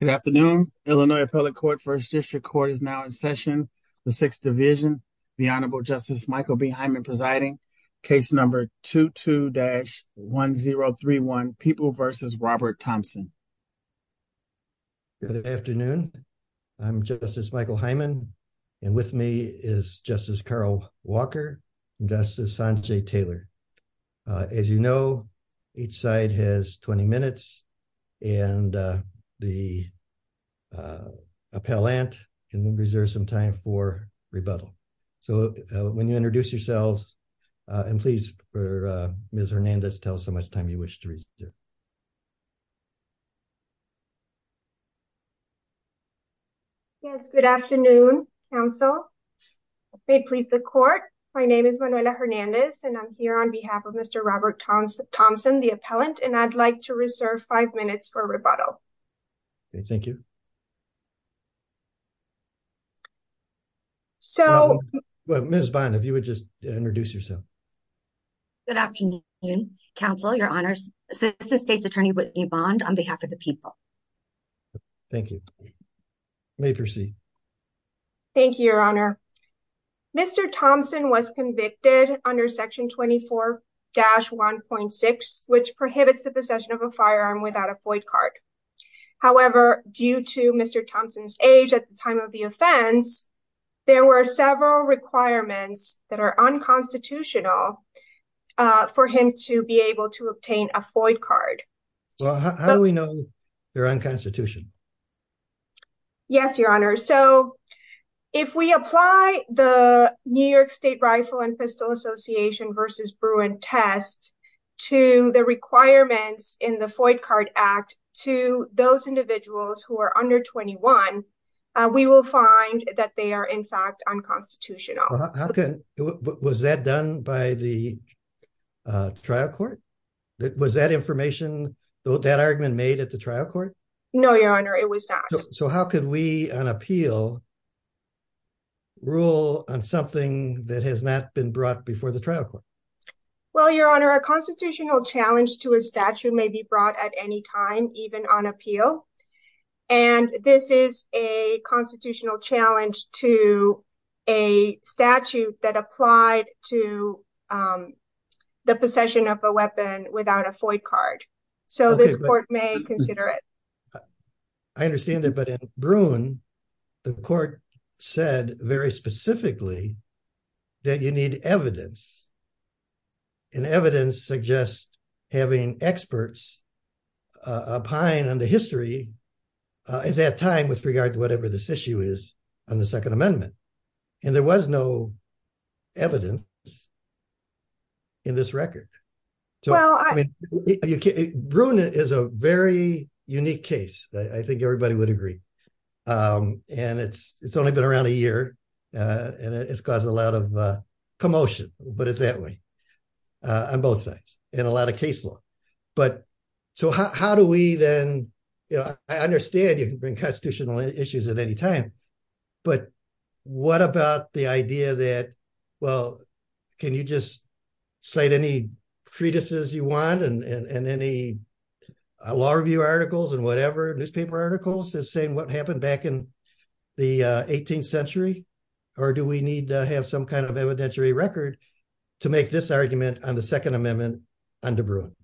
Good afternoon. Illinois Appellate Court First District Court is now in session. The Sixth Division, the Honorable Justice Michael B. Hyman presiding, case number 22-1031, People v. Robert Thompson. Good afternoon. I'm Justice Michael Hyman, and with me is Justice Carl Taylor. As you know, each side has 20 minutes, and the appellant can reserve some time for rebuttal. So when you introduce yourselves, and please, for Ms. Hernandez, tell us how much time you wish to reserve. Yes, good afternoon, counsel. May it please the court, my name is Manuela Hernandez, and I'm here on behalf of Mr. Robert Thompson, the appellant, and I'd like to reserve five minutes for rebuttal. Okay, thank you. So, Ms. Bynum, if you would just introduce yourself. Good afternoon, counsel, your honors. Assistant State's Attorney Whitney Bond on behalf of the people. Thank you. You may proceed. Thank you, your honor. Mr. Thompson was convicted under Section 24-1.6, which prohibits the possession of a firearm without a court card. However, due to Mr. Thompson's age at the time of the offense, there were several requirements that are unconstitutional for him to be able to obtain a FOID card. Well, how do we know they're unconstitutional? Yes, your honor. So if we apply the New York State Rifle and Pistol Association versus Bruin test to the requirements in the FOID card act to those individuals who are under 21, we will find that they are in fact unconstitutional. Was that done by the trial court? Was that information, that argument made at the trial court? No, your honor, it was not. So how could we on appeal rule on something that has not been brought before the trial court? Well, your honor, a constitutional challenge to a statute may be brought at any time, even on appeal. And this is a constitutional challenge to a statute that applied to the possession of a weapon without a FOID card. So this court may consider it. I understand that. But in Bruin, the court said very specifically that you need evidence. And evidence suggests having experts opine on the history at that time with regard to whatever this issue is on the Second Amendment. And there was no evidence in this record. So Bruin is a very unique case. I think everybody would agree. And it's only been around a year and it's caused a lot of commotion, put it that way, on both sides in a lot of case law. But so how do we then, I understand you can bring constitutional issues at any time, but what about the idea that, well, can you just cite any treatises you want and any law review articles and whatever, newspaper articles that say what happened back in the 18th century? Or do we need to have some kind of evidentiary record to make this argument on the Second Amendment under Bruin?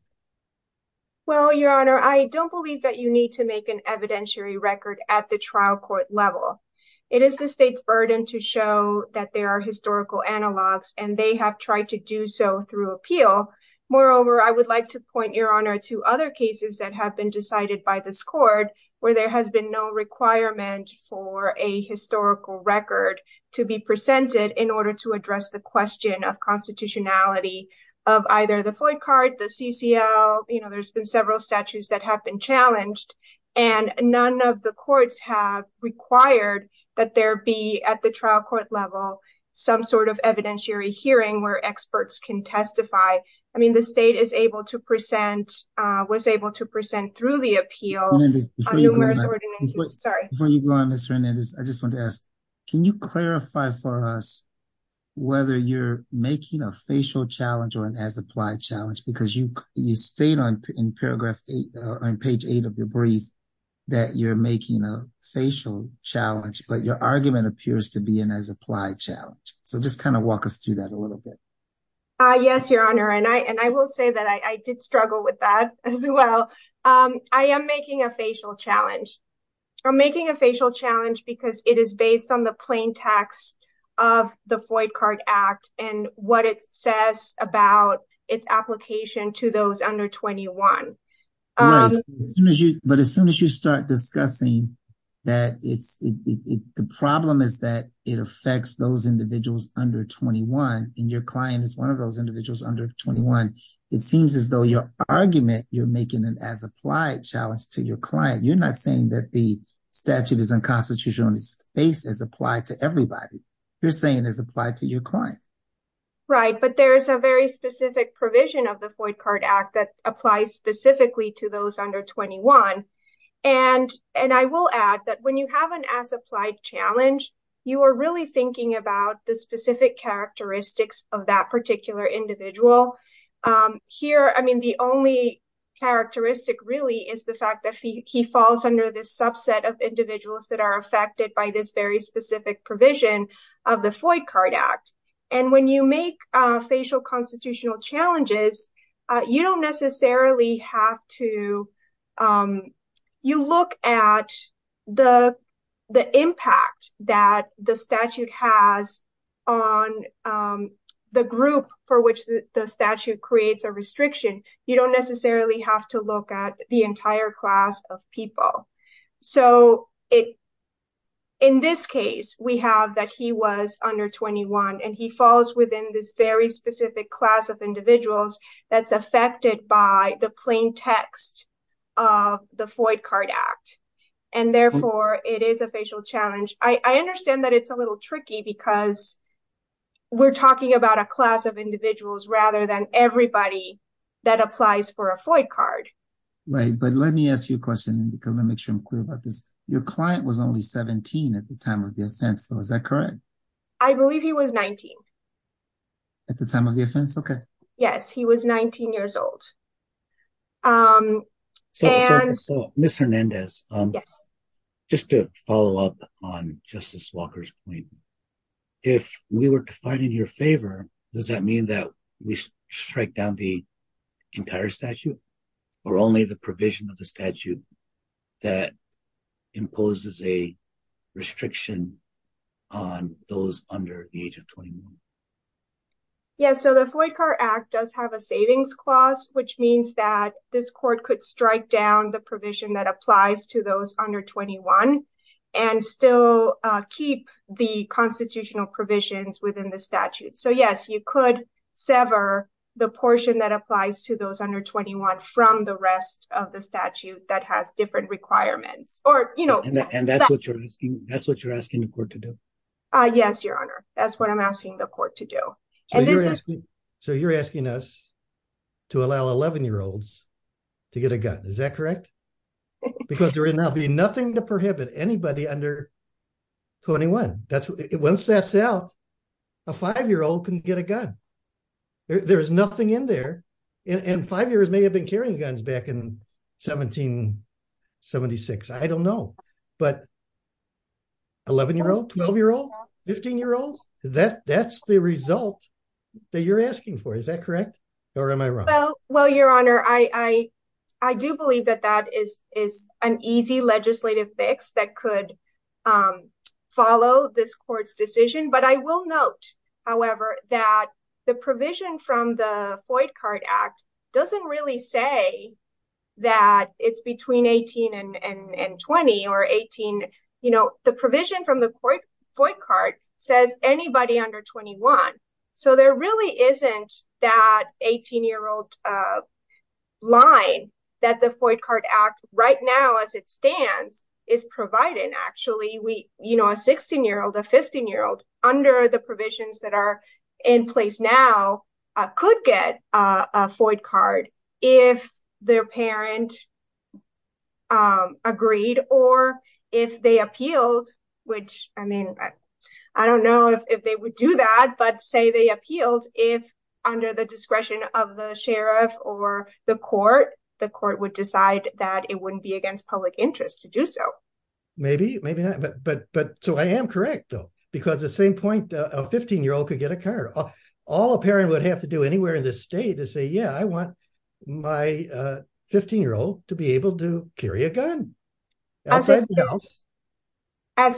Well, your honor, I don't believe that you need to make an evidentiary record at the trial court level. It is the state's burden to show that there are historical analogs and they have tried to do so through appeal. Moreover, I would like to point your honor to other cases that have been decided by this court where there has been no requirement for a historical record to be presented in order to address the question of constitutionality of either the Floyd card, the CCL. There's been several statutes that have been challenged and none of the courts have required that there be at the trial court level some sort of evidentiary hearing where experts can testify. I mean, the state is able to present, was able to present through the appeal on numerous ordinances. Before you go on, Ms. Hernandez, I just wanted to ask, can you clarify for us whether you're making a facial challenge or an as-applied challenge? Because you state in paragraph eight, on page eight of your brief, that you're making a facial challenge, but your argument appears to be an as-applied challenge. So just kind of walk us through that a little bit. Yes, your honor. And I will say that I did struggle with that as well. I am making a facial challenge. I'm making a facial challenge because it is based on the plain text of the Floyd card act and what it says about its application to those under 21. Right. But as soon as you start discussing that, the problem is that it affects those individuals under 21 and your client is one of those individuals under 21. It seems as though your argument, you're making an as-applied challenge to your client. You're not saying that the statute is unconstitutional and it's based as applied to everybody. You're saying as applied to your client. Right. But there is a very specific provision of the Floyd card act that applies specifically to those under 21. And I will add that when you have an as-applied challenge, you are really thinking about the specific characteristics of that particular individual. Here, I mean, the only characteristic really is the fact that he falls under this subset of individuals that are affected by this very specific provision of the Floyd card act. And when you make a facial constitutional challenges, you don't necessarily have to. You look at the the impact that the statute has on the group for which the statute creates a restriction. You don't necessarily have to look at the entire class of people. So it in this case, we have that he was under 21 and he falls within this very specific class of individuals that's affected by the plain text of the Floyd card act. And therefore, it is a facial challenge. I understand that it's a little tricky because we're talking about a class of individuals rather than everybody that applies for a Floyd card. Right. But let me ask you a your client was only 17 at the time of the offense, though, is that correct? I believe he was 19. At the time of the offense. OK, yes, he was 19 years old. So, Mr. Hernandez, just to follow up on Justice Walker's point, if we were to fight in your favor, does that mean that we strike down the entire statute or only the provision of the statute that imposes a restriction on those under the age of 21? Yes, so the Floyd car act does have a savings clause, which means that this court could strike down the provision that applies to those under 21 and still keep the constitutional provisions within the statute. So, yes, you could sever the portion that applies to those under 21 from the rest of the statute that has different requirements or, you know. And that's what you're asking. That's what you're asking the court to do. Yes, your honor. That's what I'm asking the court to do. So you're asking us to allow 11 year olds to get a gun. Is that correct? Because there will not be nothing to prohibit anybody under 21. Once that's out, a five year old can get a gun. There's nothing in there. And five years may have been carrying guns back in 1776. I don't know. But 11 year old, 12 year old, 15 year old, that that's the result that you're asking for. Is that correct? Or am I wrong? Well, your honor, I do believe that that is an easy legislative fix that could follow this court's decision. But I will note, however, that the provision from the Foyt Carte Act doesn't really say that it's between 18 and 20 or 18. You know, the provision from the Foyt Carte says anybody under 21. So there really isn't that 18 year old line that the Foyt Carte Act right now, as it stands, is providing actually, you know, a 16 year old, a 15 year old under the provisions that are in place now could get a Foyt Carte if their parent agreed or if they appealed, which I mean, I don't know if they would do that. But say they appealed if under the discretion of the sheriff or the court, the court would decide that it wouldn't be against public interest to do so. Maybe, maybe not. But but but so I am correct, though, because the same point of 15 year old could get a car. All a parent would have to do anywhere in this state to say, yeah, I want my 15 year old to be able to carry a gun. As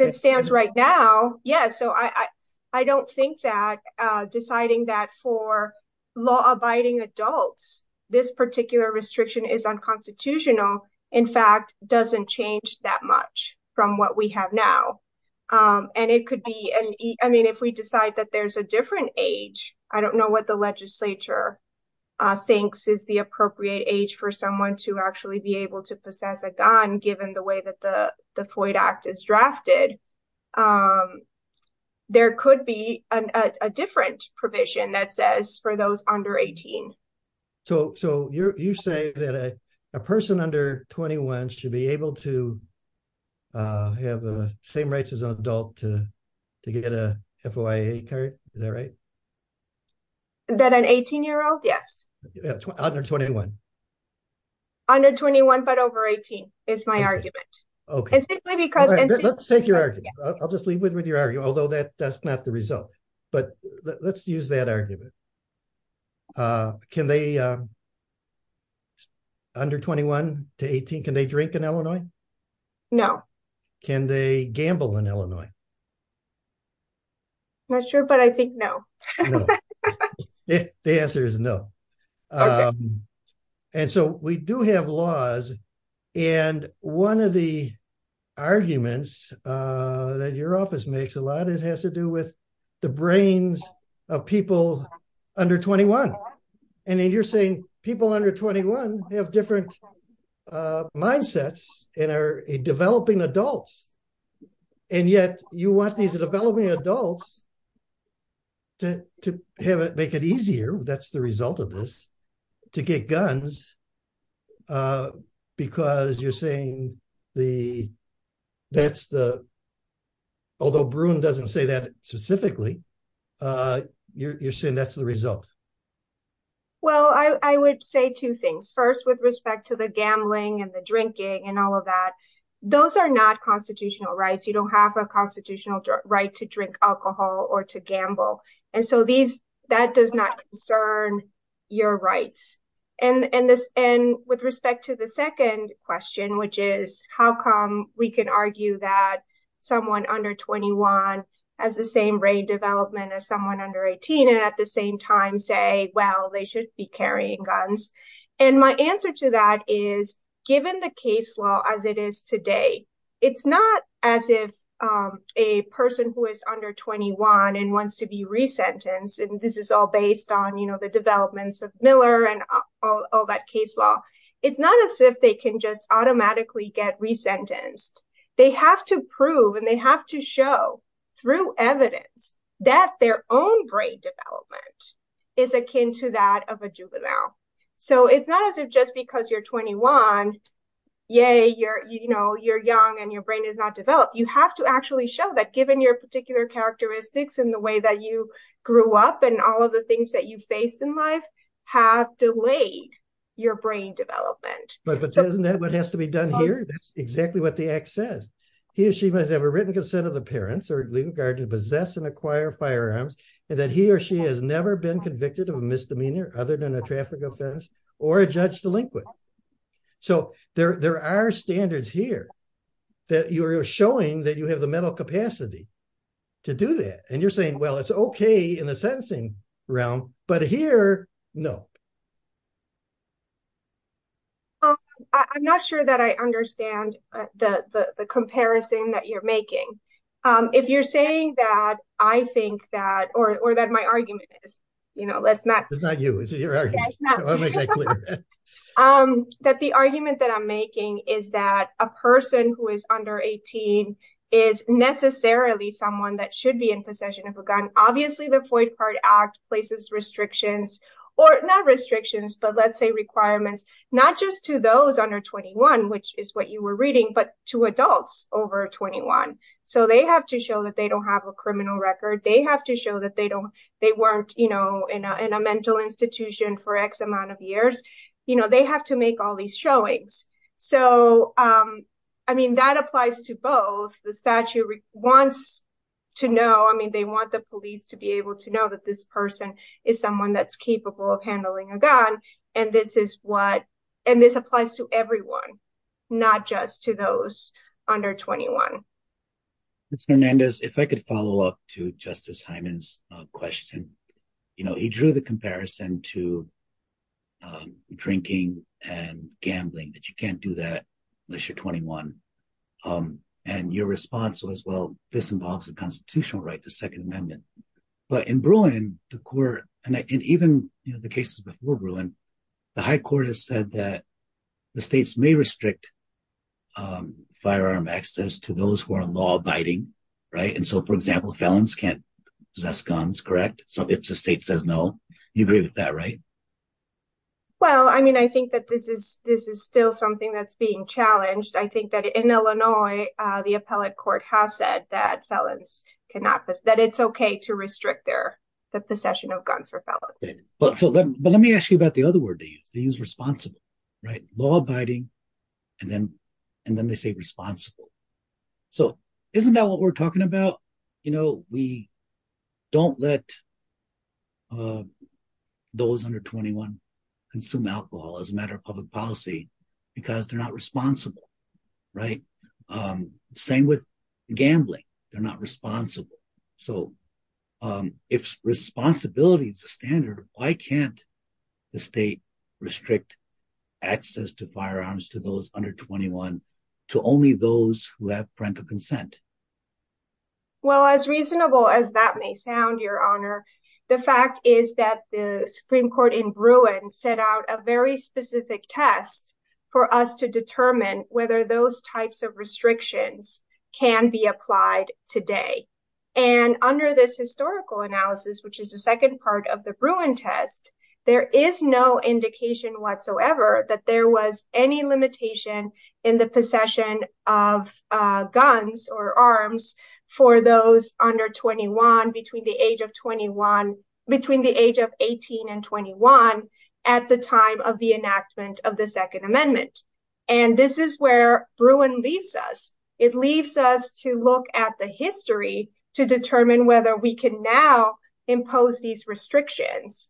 it stands right now. Yeah. So I don't think that deciding that for law abiding adults, this particular restriction is unconstitutional, in fact, doesn't change that much from what we have now. And it could be. And I mean, if we decide that there's a different age, I don't know what the legislature thinks is the appropriate age for someone to actually be able to possess a gun, given the the FOIA Act is drafted. There could be a different provision that says for those under 18. So so you say that a person under 21 should be able to have the same rights as an adult to to get a FOIA card. Is that right? That an 18 year old? Yes. Under 21. Under 21, but over 18 is my argument. Okay. Let's take your argument. I'll just leave it with your argument, although that that's not the result. But let's use that argument. Can they under 21 to 18? Can they drink in Illinois? No. Can they gamble in Illinois? I'm not sure, but I think no. The answer is no. And so we do have laws. And one of the arguments that your office makes a lot, it has to do with the brains of people under 21. And then you're saying people under 21 have different mindsets and are developing adults. And yet you want these developing adults to make it easier, that's the result of this, to get guns because you're saying that's the, although Bruin doesn't say that specifically, you're saying that's the result. Well, I would say two things. First, with respect to the gambling and the drinking and all of that, those are not constitutional rights. You don't have a constitutional right to drink alcohol or to gamble. And so that does not concern your rights. And with respect to the second question, which is how come we can argue that someone under 21 has the same brain development as someone under 18 and at the same time say, well, they should be carrying guns. And my answer to that is given the case law as it is today, it's not as if a person who is under 21 and wants to be resentenced, and this is all based on the developments of Miller and all that case law, it's not as if they can just automatically get resentenced. They have to prove and they have to show through evidence that their own brain development is akin to that of a juvenile. So it's not as if just because you're 21, yay, you're young and your brain is not developed. You have to actually show that given your particular characteristics and the way that you grew up and all of the things that you faced in life have delayed your brain development. But isn't that what has to be done here? That's exactly what the act says. He or she must have written consent of the parents or legal guardian to possess and acquire firearms and that he or she has never been convicted of a misdemeanor other than a traffic offense or a judge delinquent. So there are standards here that you're showing that you have the mental capacity to do that. And you're saying, well, it's okay in the sentencing realm, but here, no. I'm not sure that I understand the comparison that you're making. If you're saying that, I think that, or that my argument is, you know, let's not. It's not you, it's your argument, I want to make that clear. That the argument that I'm making is that a person who is under 18 is necessarily someone that should be in possession of a gun. Obviously, the Foyt Part Act places restrictions, or not restrictions, but let's say requirements, not just to those under 21, which is what you were reading, but to adults over 21. So they have to show that they don't have a criminal record. They have to show that they weren't in a mental institution for X amount of years. You know, they have to make all these showings. So, I mean, that applies to both. The statute wants to know, I mean, they want the police to be able to know that this person is someone that's capable of handling a gun, and this is what, and this applies to everyone, not just to those under 21. Mr. Hernandez, if I could follow up to Justice Hyman's question, you know, he drew the comparison to drinking and gambling, that you can't do that unless you're 21. And your response was, well, this involves a constitutional right to Second Amendment. But in Bruin, the court, and even, you know, the cases before Bruin, the high court has said that the states may restrict firearm access to those who are law-abiding, right? And so, for example, felons can't possess guns, correct? So if the state says no, you agree with that, right? Well, I mean, I think that this is still something that's being challenged. I think that in Illinois, the appellate court has said that felons cannot, that it's okay to restrict their, the possession of guns for felons. But let me ask you about the other word they use. They use responsible, right? Law-abiding, and then they say responsible. So isn't that what we're talking about? You know, we don't let those under 21 consume alcohol as a matter of public policy because they're not responsible, right? Same with gambling. They're not responsible. So if responsibility is a standard, why can't the state restrict access to firearms to those under 21 to only those who have parental consent? Well, as reasonable as that may sound, Your Honor, the fact is that the Supreme Court in Bruin set out a very specific test for us to determine whether those types of restrictions can be applied today. And under this historical analysis, which is the second part of the Bruin test, there is no indication whatsoever that there was any limitation in the possession of guns or arms for those under 21, between the age of 21, at the time of the enactment of the Second Amendment. And this is where Bruin leaves us. It leaves us to look at the history to determine whether we can now impose these restrictions.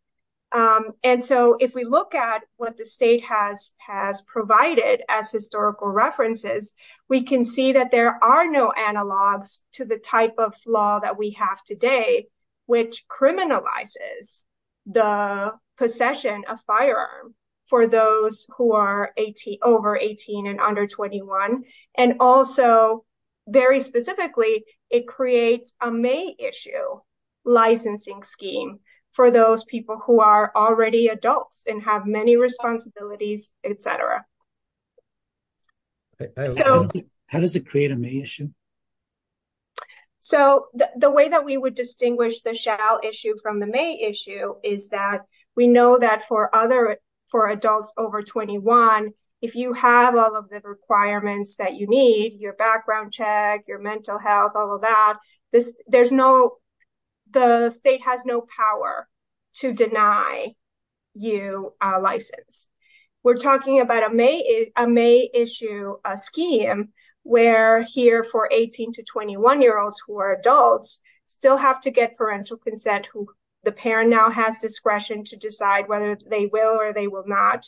And so if we look at what the state has provided as historical references, we can see that there firearm for those who are over 18 and under 21. And also, very specifically, it creates a May issue licensing scheme for those people who are already adults and have many responsibilities, etc. How does it create a May issue? So the way that we would distinguish the shall issue from the May issue is that we know that for other for adults over 21, if you have all of the requirements that you need your background check, your mental health, all of that, this there's no, the state has no power to deny you a license. We're talking about a May issue scheme, where here for 18 to 21 year olds who are adults, still have to get parental consent who the parent now has discretion to decide whether they will or they will not.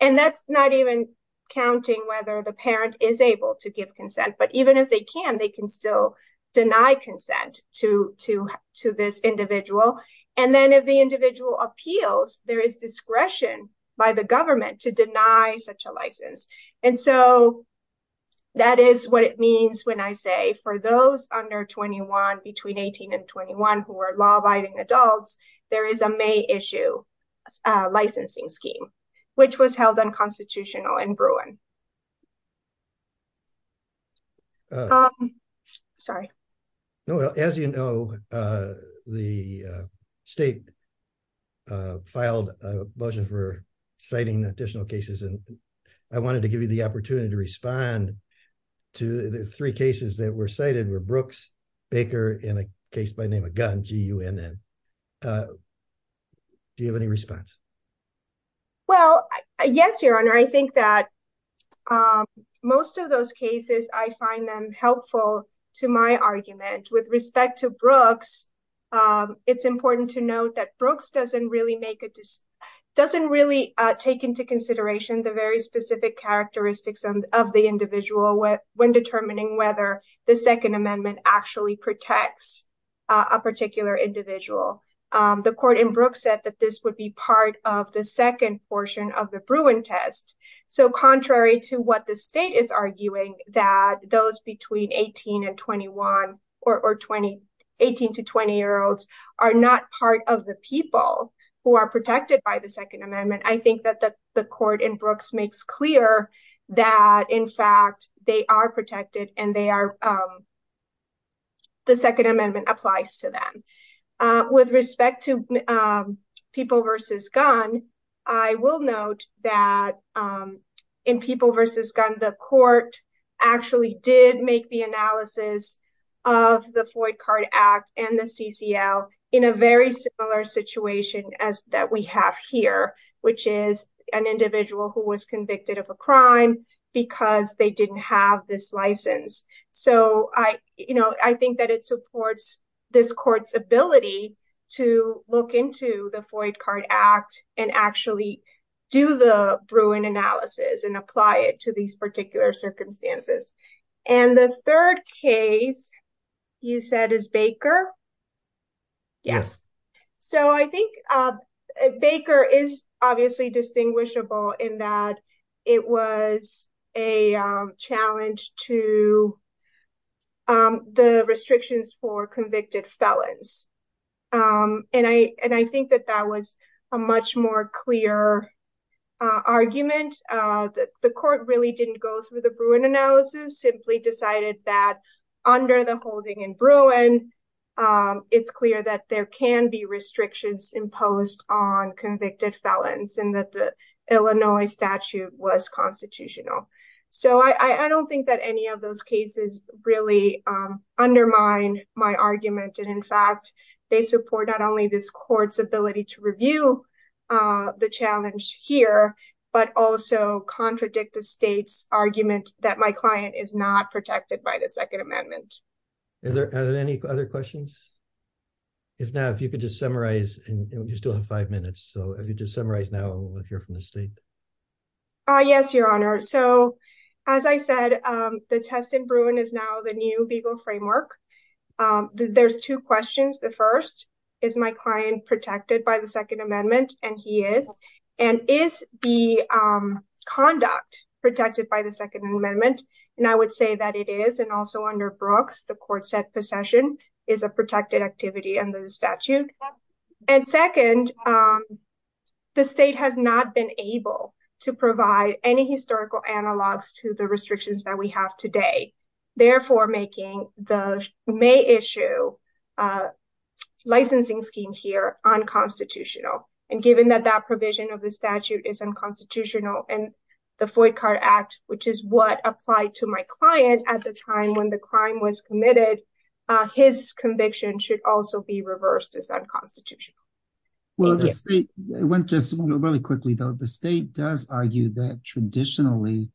And that's not even counting whether the parent is able to give consent. But even if they can, they can still deny consent to this individual. And then if individual appeals, there is discretion by the government to deny such a license. And so that is what it means when I say for those under 21, between 18 and 21, who are law abiding adults, there is a May issue licensing scheme, which was held unconstitutional in Bruin. Sorry, no, well, as you know, the state filed a motion for citing additional cases and I wanted to give you the opportunity to respond to the three cases that were cited were Brooks, Baker, and a case by name of gun GUNN. Do you have any response? Well, yes, Your Honor, I think that most of those cases, I find them helpful to my argument with respect to Brooks. It's important to note that Brooks doesn't really make it doesn't really take into consideration the very specific characteristics of the individual when determining whether the Second Amendment actually protects a particular individual. The court in Brooks said that this would be part of the second portion of the Bruin test. So contrary to what the state is arguing, that those between 18 and 21 or 20, 18 to 20 year olds are not part of the people who are protected by the Second Amendment. I think that the court in Brooks makes clear that in fact, they are versus gun. I will note that in people versus gun, the court actually did make the analysis of the Floyd Card Act and the CCL in a very similar situation as that we have here, which is an individual who was convicted of a crime because they didn't have this license. So I, you know, I think that it supports this court's ability to look into the Floyd Card Act and actually do the Bruin analysis and apply it to these particular circumstances. And the third case, you said is Baker? Yes. So I think Baker is obviously distinguishable in that it was a restrictions for convicted felons. And I think that that was a much more clear argument that the court really didn't go through the Bruin analysis, simply decided that under the holding in Bruin, it's clear that there can be restrictions imposed on convicted felons and that the Illinois statute was constitutional. So I don't think that any of those cases really undermine my argument. And in fact, they support not only this court's ability to review the challenge here, but also contradict the state's argument that my client is not protected by the second amendment. Are there any other questions? If not, if you could just summarize, and you still have five minutes. So if you just summarize now, we'll hear from the state. Ah, yes, your honor. So as I said, the test in Bruin is now the new legal framework. There's two questions. The first is my client protected by the second amendment, and he is, and is the conduct protected by the second amendment? And I would say that it is and also under Brooks, the court said possession is a protected activity under the statute. And second, the state has not been able to provide any historical analogs to the restrictions that we have today, therefore making the May issue licensing scheme here unconstitutional. And given that that provision of the statute is unconstitutional and the Foyt Card Act, which is what applied to my client at the time when the crime was committed, his conviction should also be reversed as unconstitutional. Well, it went just really quickly, though, the state does argue that traditionally,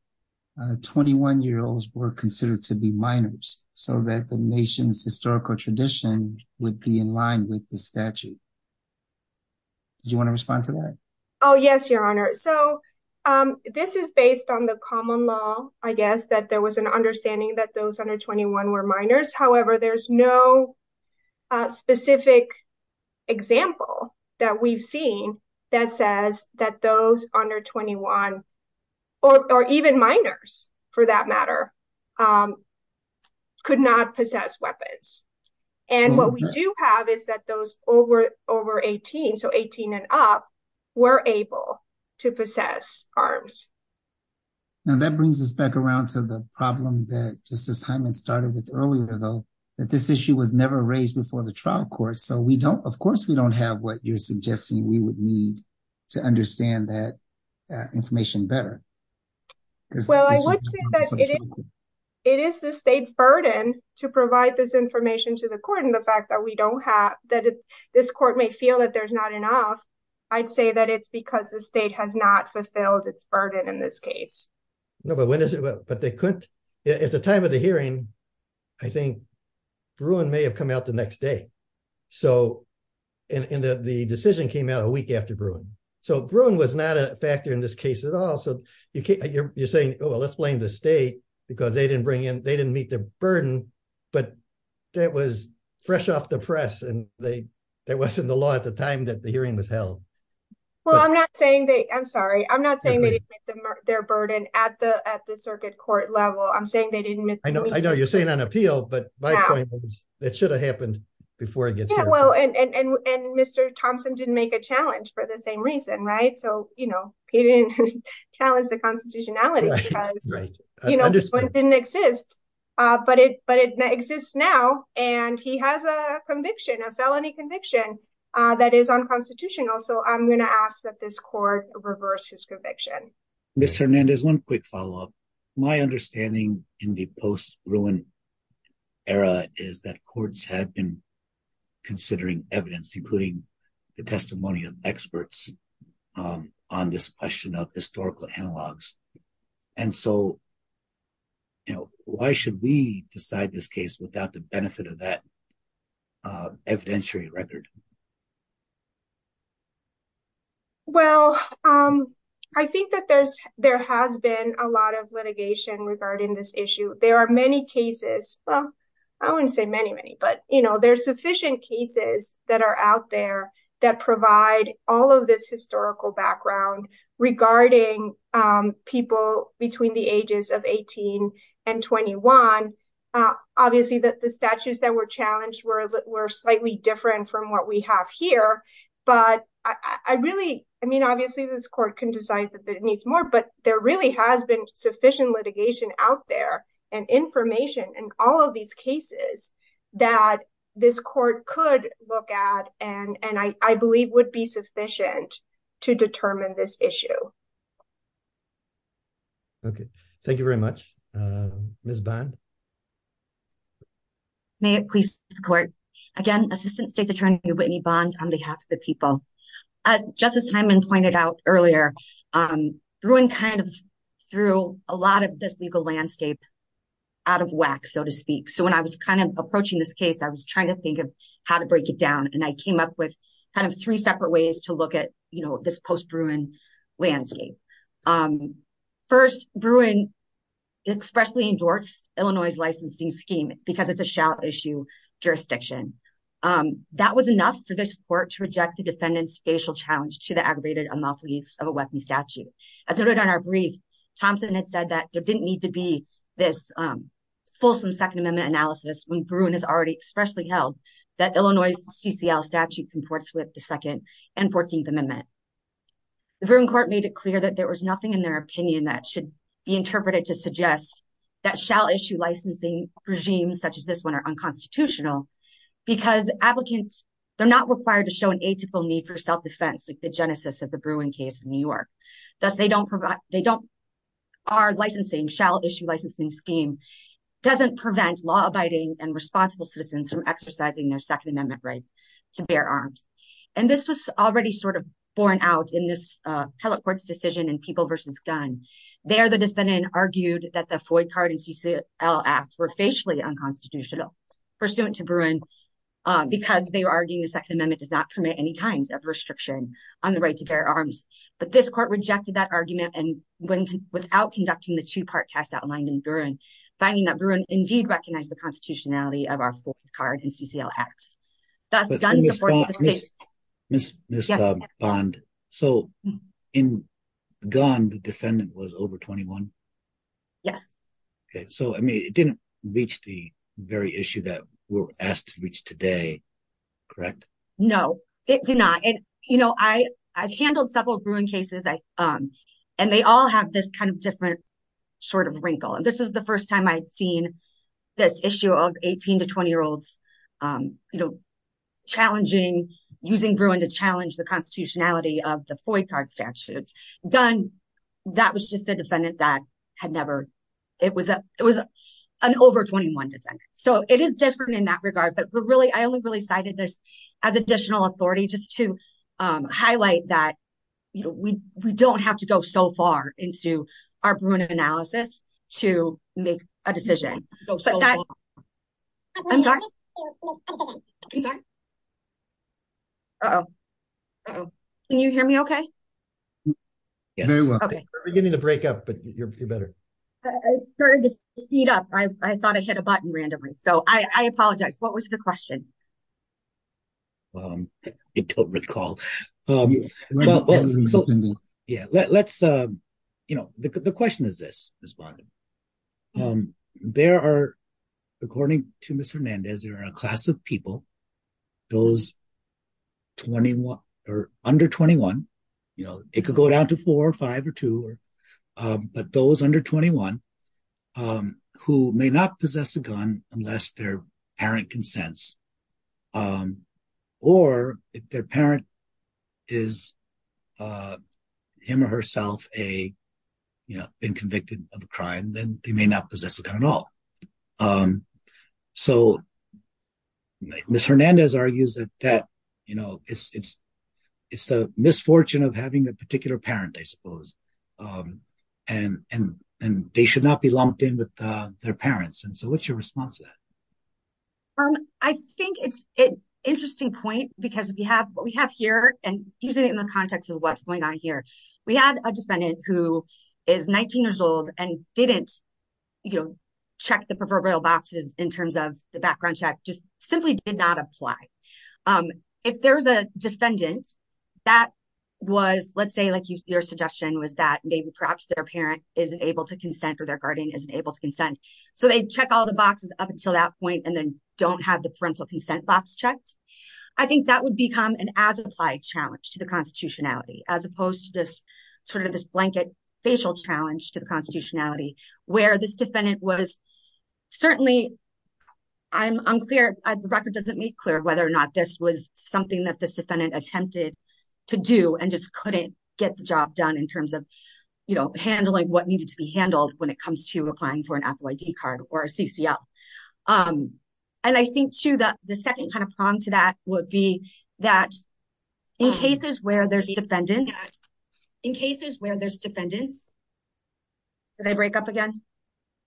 21 year olds were considered to be minors, so that the nation's historical tradition would be in line with the statute. Do you want to respond to that? Oh, yes, your honor. So this is based on the common law, I guess that there was an understanding that those under 21 were minors. However, there's no specific example that we've seen that says that those under 21, or even minors, for that matter, could not possess weapons. And what we do have is that those over 18, so 18 and up, were able to possess arms. Now that brings us back around to the problem that Justice Hyman started with earlier, though, that this issue was never raised before the trial court. So we don't, of course, we don't have what you're suggesting we would need to understand that information better. Well, I would say that it is the state's burden to provide this information to the court. And the fact that we don't have, that this court may feel that there's not enough, I'd say that it's because the state has not fulfilled its burden in this case. No, but when is it, but they couldn't, at the time of the hearing, I think Bruin may have come out the next day. So, and the decision came out a week after Bruin. So Bruin was not a factor in this case at all. So you're saying, oh, well, let's blame the state, because they didn't bring in, they didn't meet the burden. But that was fresh off the press. And they, that wasn't the law at the time that the hearing was I'm sorry, I'm not saying they didn't meet their burden at the circuit court level. I'm saying they didn't meet. I know you're saying on appeal, but my point is, it should have happened before it gets here. Well, and Mr. Thompson didn't make a challenge for the same reason, right? So, you know, he didn't challenge the constitutionality because, you know, it didn't exist. But it exists now. And he has a conviction, a felony conviction that is unconstitutional. So I'm going to ask that this court reverse his conviction. Ms. Hernandez, one quick follow-up. My understanding in the post-Bruin era is that courts had been considering evidence, including the testimony of experts on this question of historical analogs. And so, you know, why should we decide this case without the benefit of that evidentiary record? Well, I think that there's, there has been a lot of litigation regarding this issue. There are many cases, well, I wouldn't say many, many, but you know, there's sufficient cases that are out there that provide all of this historical background regarding people between the ages of 18 and 21. Obviously, the statutes that were challenged were slightly different from what we have here. But I really, I mean, obviously this court can decide that it needs more, but there really has been sufficient litigation out there and information in all of these cases that this court could look at and I believe would be sufficient to determine this issue. Okay, thank you very much. Ms. Bond? May it please the court. Again, Assistant State's Attorney Whitney Bond on behalf of the people. As Justice Hyman pointed out earlier, Bruin kind of threw a lot of this legal landscape out of whack, so to speak. So, when I was kind of approaching this case, I was trying to think of how to break it down and I came up with kind of three separate ways to look at, you know, this post-Bruin landscape. First, Bruin expressly endorsed Illinois' licensing scheme because it's a shout issue jurisdiction. That was enough for this court to reject the defendant's facial challenge to the aggravated unlawful use of a weapon statute. As noted on our brief, Thompson had said that there didn't need to be this fulsome Second Amendment analysis when Bruin has already held that Illinois' CCL statute comports with the Second and Fourteenth Amendment. The Bruin court made it clear that there was nothing in their opinion that should be interpreted to suggest that shall issue licensing regimes such as this one are unconstitutional because applicants, they're not required to show an atypical need for self-defense like the genesis of the Bruin case in New York. Thus, they don't provide, they don't, our licensing shall issue licensing scheme doesn't prevent law-abiding and responsible citizens from exercising their Second Amendment right to bear arms. And this was already sort of borne out in this appellate court's decision in People vs. Gun. There, the defendant argued that the FOI card and CCL act were facially unconstitutional pursuant to Bruin because they were arguing the Second Amendment does not permit any kind of restriction on the right to bear arms. But this court rejected that argument and without conducting the two-part test outlined in Bruin, finding that Bruin indeed recognized the constitutionality of our FOI card and CCL acts. Thus, Gun supports the state. Ms. Bond, so in Gun the defendant was over 21? Yes. Okay, so I mean it didn't reach the very issue that we're asked to reach today, correct? No, it did not. And you know, I've this kind of different sort of wrinkle. And this is the first time I'd seen this issue of 18 to 20 year olds, you know, challenging, using Bruin to challenge the constitutionality of the FOI card statutes. Gun, that was just a defendant that had never, it was a, it was an over 21 defendant. So it is different in that regard, but we're really, I only really cited this as additional authority just to highlight that, you know, we, we don't have to go so far into our Bruin analysis to make a decision. Can you hear me okay? We're beginning to break up, but you're better. I started to speed up. I thought I hit a button randomly. So I apologize. What was the question? I don't recall. Yeah, let's, you know, the question is this, Ms. Bondo. There are, according to Mr. Hernandez, there are a class of people, those 21 or under 21, you know, it could go down to four or five or two, but those under 21 who may not possess a gun unless their parent consents, or if their parent is him or herself a, you know, been convicted of a crime, then they may not possess a gun at all. So Ms. Hernandez argues that, that, you know, it's, it's, it's the misfortune of having a particular parent, I suppose, and, and, and they should not lumped in with their parents. And so what's your response to that? I think it's an interesting point because we have, what we have here, and using it in the context of what's going on here, we had a defendant who is 19 years old and didn't, you know, check the proverbial boxes in terms of the background check, just simply did not apply. If there's a defendant that was, let's say like your suggestion was that maybe perhaps their parent isn't able to consent or their guardian isn't able to consent. So they check all the boxes up until that point, and then don't have the parental consent box checked. I think that would become an as-applied challenge to the constitutionality as opposed to just sort of this blanket facial challenge to the constitutionality where this defendant was certainly, I'm unclear, the record doesn't make clear whether or not this was get the job done in terms of, you know, handling what needed to be handled when it comes to applying for an Apple ID card or a CCL. And I think too, that the second kind of prong to that would be that in cases where there's defendants, in cases where there's defendants, did I break up again?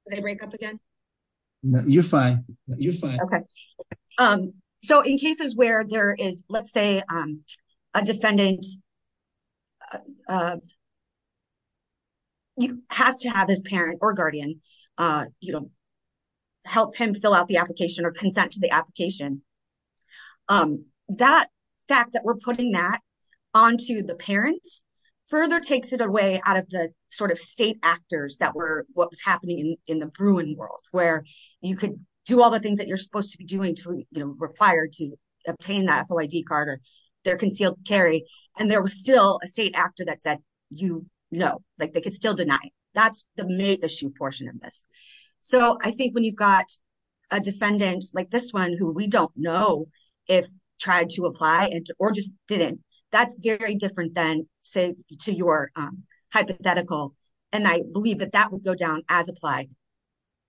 Did I break up again? No, you're fine. You're fine. Okay. So in cases where there is, let's say a defendant has to have his parent or guardian help him fill out the application or consent to the application, that fact that we're putting that onto the parents further takes it away out of the sort of state actors that were what was happening in the Bruin world, where you could do all the things that you're supposed to be doing to require to obtain the Apple ID card or their concealed carry. And there was still a state actor that said, you know, like they could still deny that's the main issue portion of this. So I think when you've got a defendant like this one who we don't know if tried to apply or just didn't, that's very different than say to your hypothetical. And I believe that that will go down as applied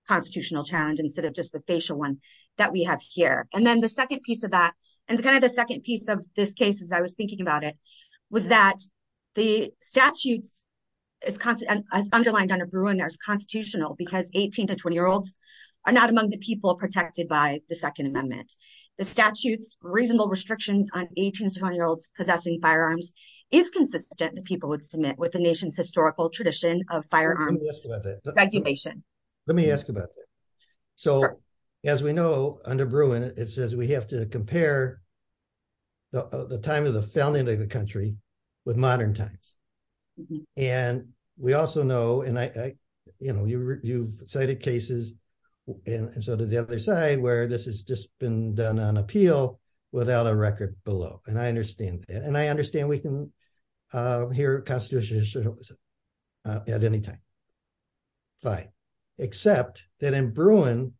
constitutional challenge instead of just the facial one that we have here. And then the second piece of that, and the kind of the second piece of this case, as I was thinking about it, was that the statutes as constant as underlined under Bruin, there's constitutional because 18 to 20 year olds are not among the people protected by the second amendment. The statutes reasonable restrictions on 18 to 20 year olds possessing firearms is consistent that people would submit with the nation's historical tradition of firearm. Let me ask about that. So as we know under Bruin, it says we have to compare the time of the founding of the country with modern times. And we also know, and I, you know, you've cited cases and so did the other side where this has just been done on appeal without a record below. And I understand that. And I understand we can hear constitutional history at any time. Fine. Except that in Bruin,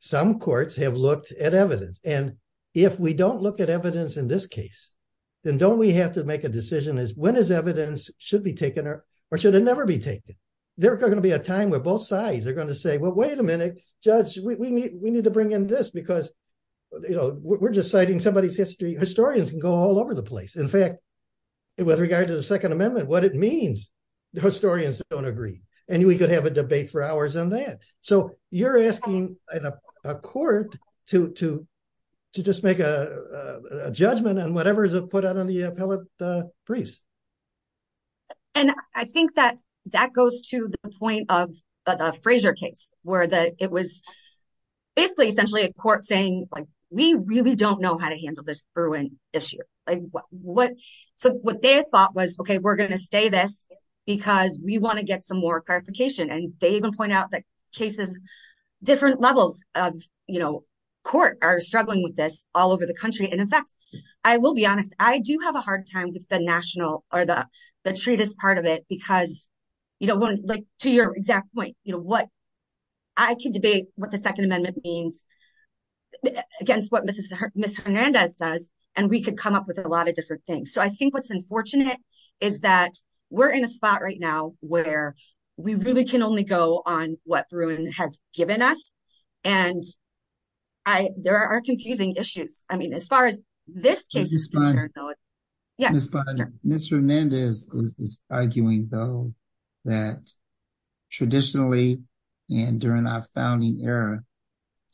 some courts have looked at evidence. And if we don't look at evidence in this case, then don't we have to make a decision as when is evidence should be taken or should it never be taken? There are going to be a time where both sides are going to say, well, wait a minute, judge, we need to bring in this because, you know, we're just citing somebody's history. Historians can go all over the place. In fact, with regard to the second amendment, what it means, the historians don't agree. And we could have a debate for hours on that. So you're asking a court to just make a judgment on whatever is put out on the appellate briefs. And I think that that goes to the point of the Frazier case where it was basically essentially a court saying, like, we really don't know how to handle this Bruin issue. So what they thought was, OK, we're going to stay this because we want to get some more clarification. And they even point out that cases, different levels of court are struggling with this all over the country. And in fact, I will be honest, I do have a hard time with the national or the treatise part of it because, you know, to your exact point, you know what, I can debate what the second amendment means against what Mrs. Hernandez does. And we could come up with a lot of different things. So I think what's unfortunate is that we're in a spot right now where we really can only go on what Bruin has given us. And there are confusing issues. I mean, as far as this case is concerned, yes, Mr. Hernandez is arguing, though, that traditionally and during our founding era,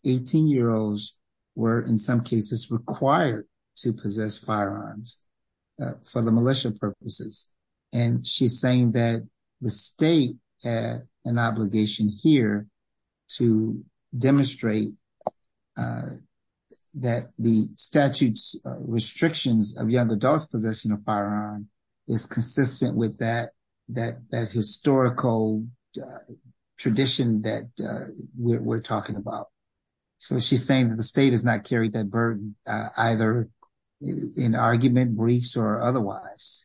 18 year olds were in some cases required to possess firearms for the militia purposes. And she's saying that the state had an obligation here to demonstrate that the statute's restrictions of young adults' possession of firearm is consistent with that historical tradition that we're talking about. So she's saying that the state has not carried that burden either in argument, briefs or otherwise.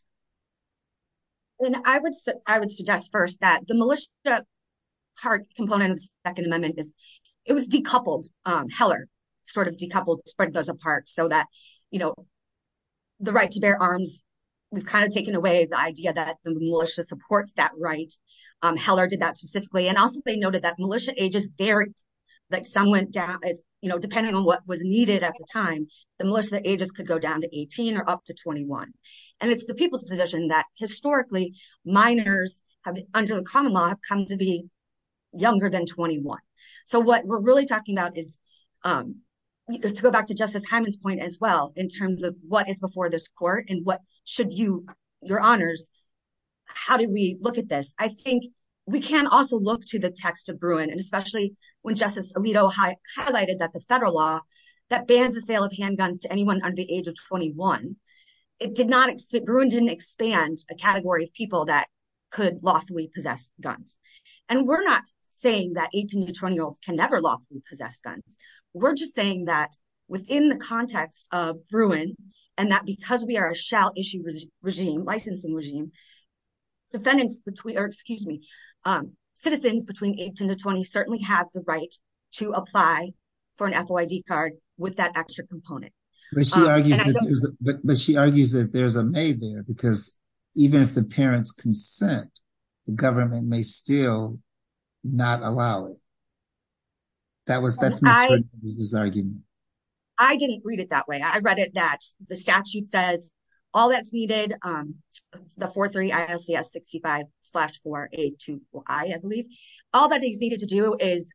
And I would suggest first that militia part component of the second amendment is it was decoupled. Heller sort of decoupled, spread those apart so that, you know, the right to bear arms, we've kind of taken away the idea that the militia supports that right. Heller did that specifically. And also, they noted that militia ages varied, like some went down, you know, depending on what was needed at the time, the militia ages could go down to 18 or up to 21. And it's the people's position that historically, minors under the common law have come to be younger than 21. So what we're really talking about is, to go back to Justice Hyman's point as well, in terms of what is before this court, and what should you, your honors, how do we look at this? I think we can also look to the text of Bruin, and especially when Justice Alito highlighted that the federal law that bans the sale of handguns to anyone under the age of 21, it did not, Bruin didn't expand a category of people that could lawfully possess guns. And we're not saying that 18 to 20 year olds can never lawfully possess guns. We're just saying that within the context of Bruin, and that because we are a shall issue regime, licensing regime, defendants between, or excuse me, citizens between 18 to 20 certainly have the right to apply for an FOID card with that extra component. But she argues that there's a may there, because even if the parents consent, the government may still not allow it. That was, that's Ms. Herndon's argument. I didn't read it that way. I read it that the statute says, all that's needed, the 4-3-ISDS-65-4-A-2-4-I, I believe, all that is needed to do is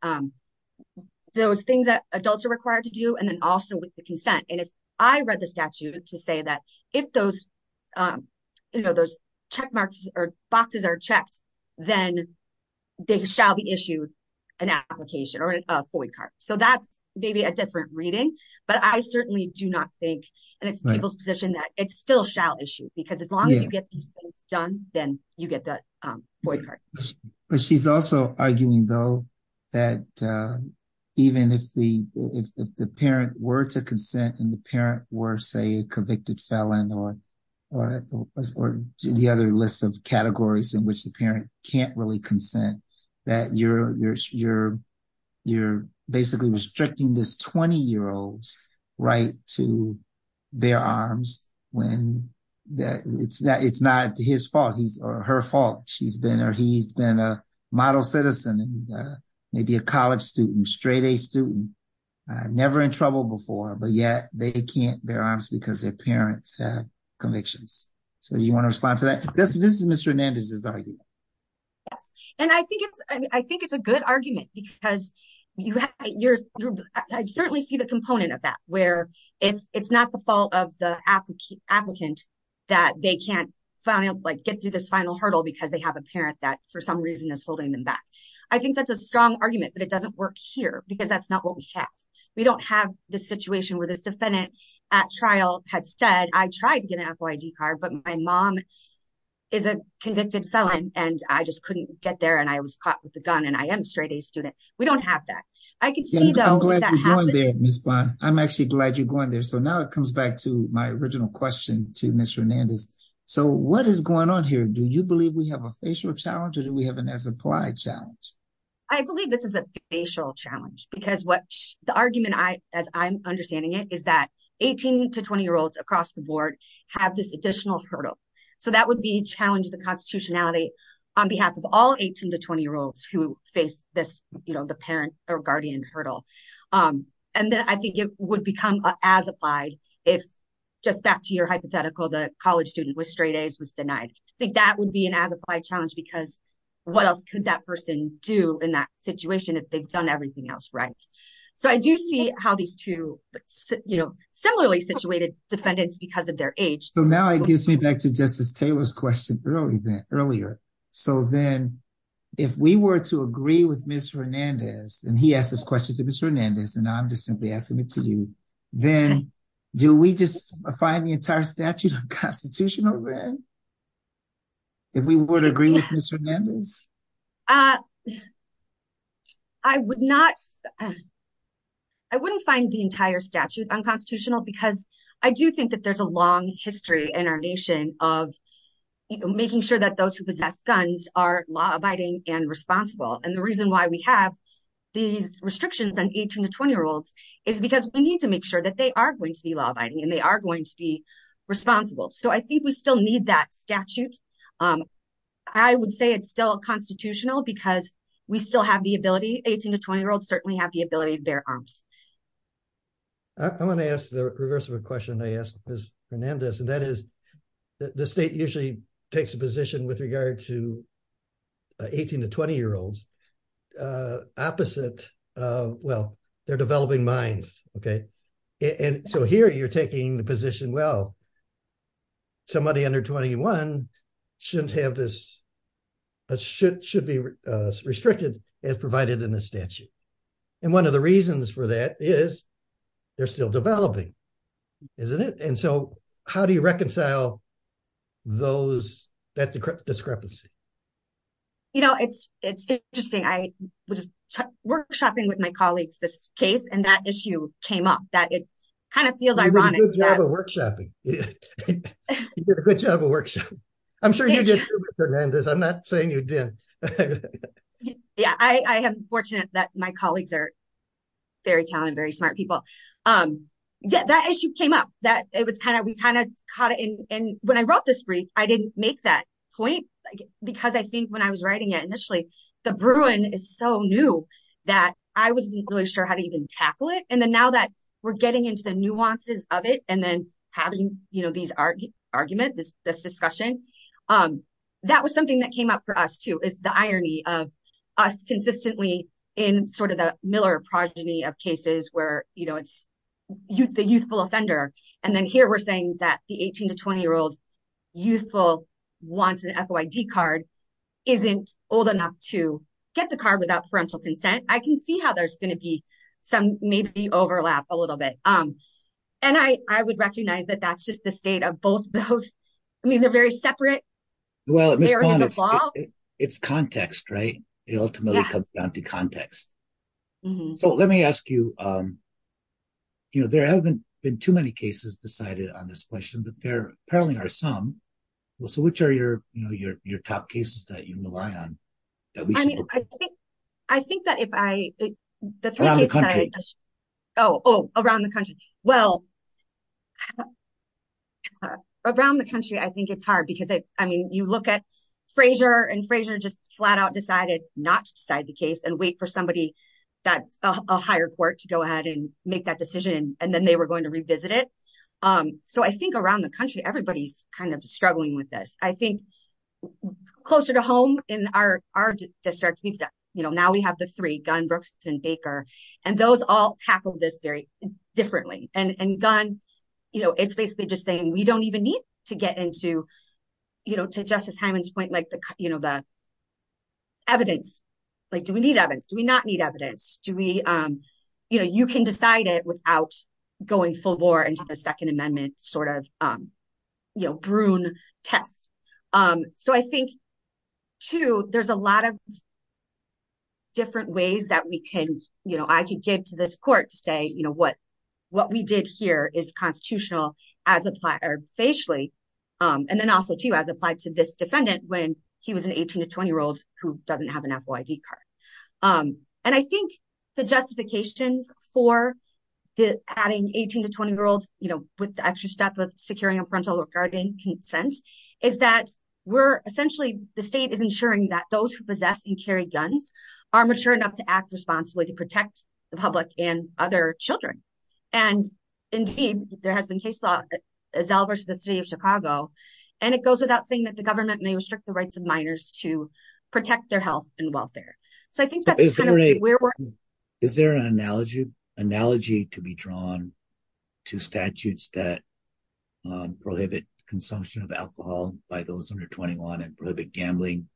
those things that adults are required to do, and then also with the consent. And if I read the statute to say that if those, you know, those check marks or boxes are checked, then they shall be issued an application or a FOID card. So that's maybe a different reading, but I certainly do not think, and it's people's position that it still shall issue, because as long as you get these things done, then you get that FOID card. But she's also arguing, though, that even if the parent were to consent and the parent were, say, a convicted felon or the other list of categories in which the parent can't really consent, that you're basically restricting this 20-year-old's right to bear arms when it's not his fault or her fault. She's been or he's been a model citizen and maybe a college student, straight-A student, never in trouble before, but yet they can't bear arms because their parents have convictions. So do you want to respond to that? This is Ms. Hernandez's argument. Yes. And I think it's a good argument because I certainly see the component of that, where if it's not the fault of the applicant that they can't get through this final hurdle because they have a parent that, for some reason, is holding them back. I think that's a strong argument, but it doesn't work here because that's not what we have. We don't have the situation where this convicted felon and I just couldn't get there and I was caught with a gun and I am a straight-A student. We don't have that. I can see, though, where that happens. I'm glad you're going there, Ms. Bond. I'm actually glad you're going there. So now it comes back to my original question to Ms. Hernandez. So what is going on here? Do you believe we have a facial challenge or do we have an as-applied challenge? I believe this is a facial challenge because the argument, as I'm understanding it, is that 18- to 20-year-olds across the board have this additional hurdle. So that would be challenge the constitutionality on behalf of all 18- to 20-year-olds who face this, you know, the parent or guardian hurdle. And then I think it would become as-applied if, just back to your hypothetical, the college student with straight A's was denied. I think that would be an as-applied challenge because what else could that person do in that situation if they've done everything else right? So I do see how these two, you know, similarly situated defendants because of their age. So now it gives me back to Justice Taylor's question earlier. So then if we were to agree with Ms. Hernandez, and he asked this question to Ms. Hernandez, and I'm just simply asking it to you, then do we just find the entire statute unconstitutional then? If we would agree with Ms. Hernandez? I wouldn't find the entire statute unconstitutional because I do think that there's a long history in our nation of making sure that those who possess guns are law-abiding and responsible. And the reason why we have these restrictions on 18- to 20-year-olds is because we need to make sure that they are going to be law-abiding and they are going to be responsible. So I think we still need that statute. I would say it's still constitutional because we still have the ability, 18- to 20-year-olds certainly have the ability to bear arms. I'm going to ask the reverse of a question I asked Ms. Hernandez, and that is the state usually takes a position with regard to 18- to 20-year-olds opposite, well, their developing minds, okay? And so here you're taking the position, well, somebody under 21 shouldn't have this, should be restricted as they're still developing, isn't it? And so how do you reconcile that discrepancy? You know, it's interesting. I was workshopping with my colleagues this case and that issue came up, that it kind of feels ironic. You did a good job of workshopping. You did a good job of workshopping. I'm sure you did too, Ms. Hernandez. I'm not saying you didn't. Yeah, I am fortunate that my colleagues are very talented, very smart people. Yeah, that issue came up, that it was kind of, we kind of caught it. And when I wrote this brief, I didn't make that point because I think when I was writing it initially, the Bruin is so new that I wasn't really sure how to even tackle it. And then now that we're getting into the nuances of it and then having, you know, these arguments, this discussion, that was something that came up for us too, is the irony of us consistently in sort of the Miller progeny of cases where, you know, it's the youthful offender. And then here we're saying that the 18 to 20 year old youthful wants an FOID card, isn't old enough to get the card without parental consent. I can see how there's going to be some, maybe overlap a little bit. And I would recognize that that's just the context, right? It ultimately comes down to context. So let me ask you, you know, there haven't been too many cases decided on this question, but there apparently are some. Well, so which are your, you know, your top cases that you rely on? I think that if I, oh, around the country. Well, around the country, I think it's hard because I mean, you look at Frasier and Frasier just flat out decided not to decide the case and wait for somebody that's a higher court to go ahead and make that decision. And then they were going to revisit it. So I think around the country, everybody's kind of struggling with this. I think closer to home in our district, you know, now we have the three, Gunn, Brooks, and Baker, and those all tackle this very differently. And Gunn, you know, it's basically just saying we don't even need to get into, you know, to Justice Hyman's point, like the, you know, the evidence, like, do we need evidence? Do we not need evidence? Do we, you know, you can decide it without going full bore into the second amendment sort of, you know, brune test. So I think, too, there's a lot of different ways that we can, you know, I can get to this court to say, you know, what, what we did here is constitutional as apply or facially, and then also to as applied to this defendant when he was an 18 to 20 year old who doesn't have an FYD card. And I think the justifications for the adding 18 to 20 year olds, you know, with the extra step of securing a parental guarding consent, is that we're essentially the state is ensuring that those who possess and carry guns are mature enough to act responsibly to protect the public and other children. And indeed, there has been case law as Alvers, the city of Chicago, and it goes without saying that the government may restrict the rights of minors to protect their health and welfare. So I think that's kind of where we're at. Is there an analogy to be drawn to statutes that prohibit consumption of alcohol by those under 21 and prohibit gambling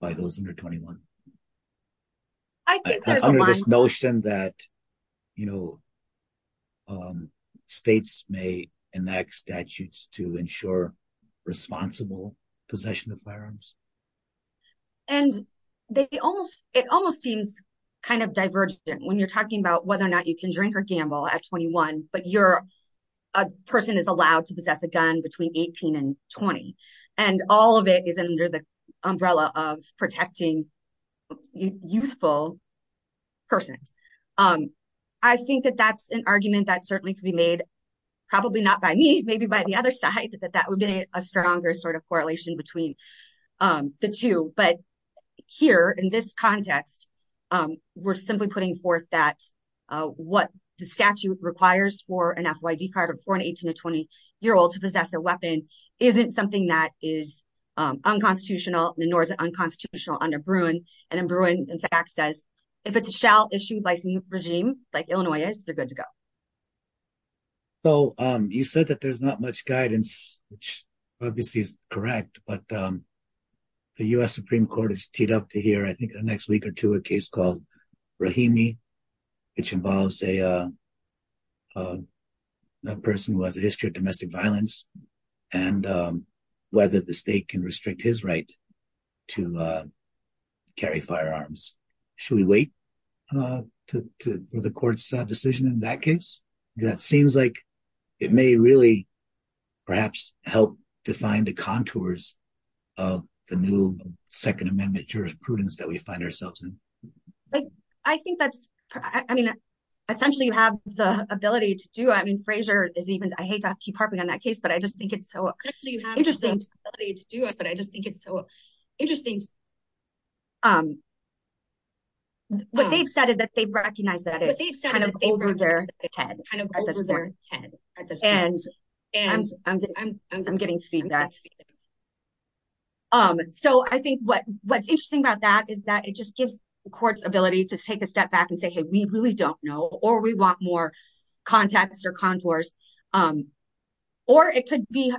by those under 21? I think under this notion that, you know, states may enact statutes to ensure responsible possession of firearms. And they almost, it almost seems kind of divergent when you're talking about whether or not you can drink or gamble at 21, but you're a person is allowed to possess a gun between 18 and 20. And all of it is under the umbrella of protecting youthful persons. I think that that's an argument that certainly could be made, probably not by me, maybe by the other side, that that would be a stronger sort of correlation between the two. But here in this context, we're simply putting forth that what the statute requires for an FYD card for an 18 to 20 year old to possess a weapon isn't something that is unconstitutional, nor is it unconstitutional under Bruin. And then Bruin, in fact, says if it's a shell issued by some regime, like Illinois is, you're good to go. So you said that there's not much guidance, which obviously is correct, but the U.S. Supreme Court has teed up to here, I think the next week or two, a case called Rahimi, which involves a person who has a history of domestic violence and whether the state can restrict his right to carry firearms. Should we wait for the court's decision in that case? That seems like it may really perhaps help define the contours of the new Second Amendment jurisprudence that we find ourselves in. I think that's, I mean, essentially you have the ability to do, I mean, Frazier is even, I hate to keep harping on that case, but I just think it's so interesting to do this, but I just think it's so interesting. What they've said is that they've recognized that it's kind of over their head, kind of over their head at this point. And I'm getting feedback. So I think what's interesting about that is that it just gives the courts ability to take a step back and say, hey, we really don't or we want more contacts or contours, or it could be,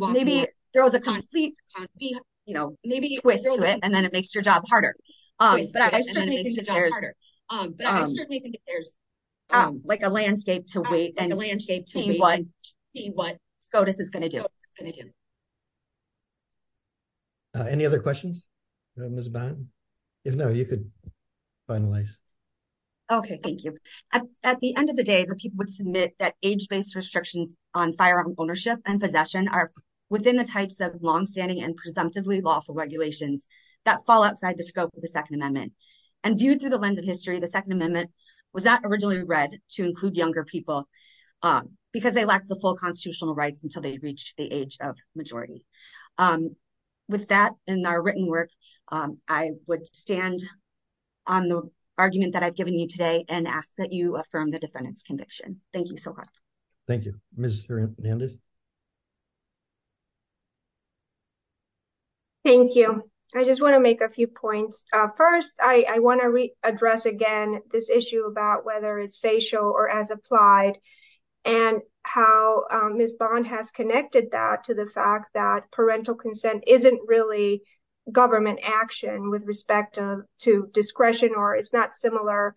maybe there was a conflict, you know, maybe twist to it, and then it makes your job harder. Like a landscape to wait and see what SCOTUS is going to do. Any other questions, Ms. Bynum? If no, you could finalize. Okay, thank you. At the end of the day, the people would submit that age-based restrictions on firearm ownership and possession are within the types of longstanding and presumptively lawful regulations that fall outside the scope of the Second Amendment. And viewed through the lens of history, the Second Amendment was not originally read to include younger people because they lacked the full constitutional rights until they reached the age of majority. And with that, in our written work, I would stand on the argument that I've given you today and ask that you affirm the defendant's conviction. Thank you so much. Thank you. Ms. Hernandez? Thank you. I just want to make a few points. First, I want to address again this issue about whether it's facial or as applied, and how Ms. Bond has connected that to the fact that parental consent isn't really government action with respect to discretion, or it's not similar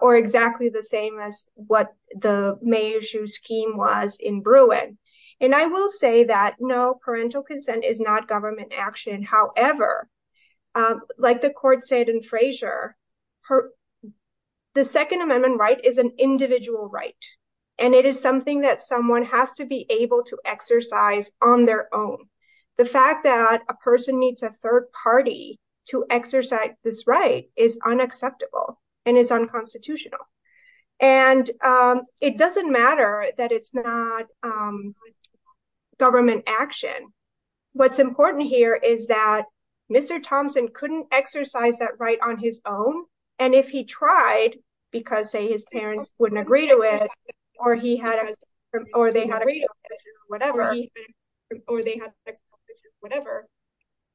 or exactly the same as what the May issue scheme was in Bruin. And I will say that no, parental consent is not government action. However, like the court said in Frazier, her, the Second Amendment right is an individual right. And it is something that someone has to be able to exercise on their own. The fact that a person needs a third party to exercise this right is unacceptable, and is unconstitutional. And it doesn't matter that it's not government action. What's important here is that Mr. Thompson couldn't exercise that right on his own. And if he tried, because say his parents wouldn't agree to it, or he had, or they had whatever, or they had, whatever,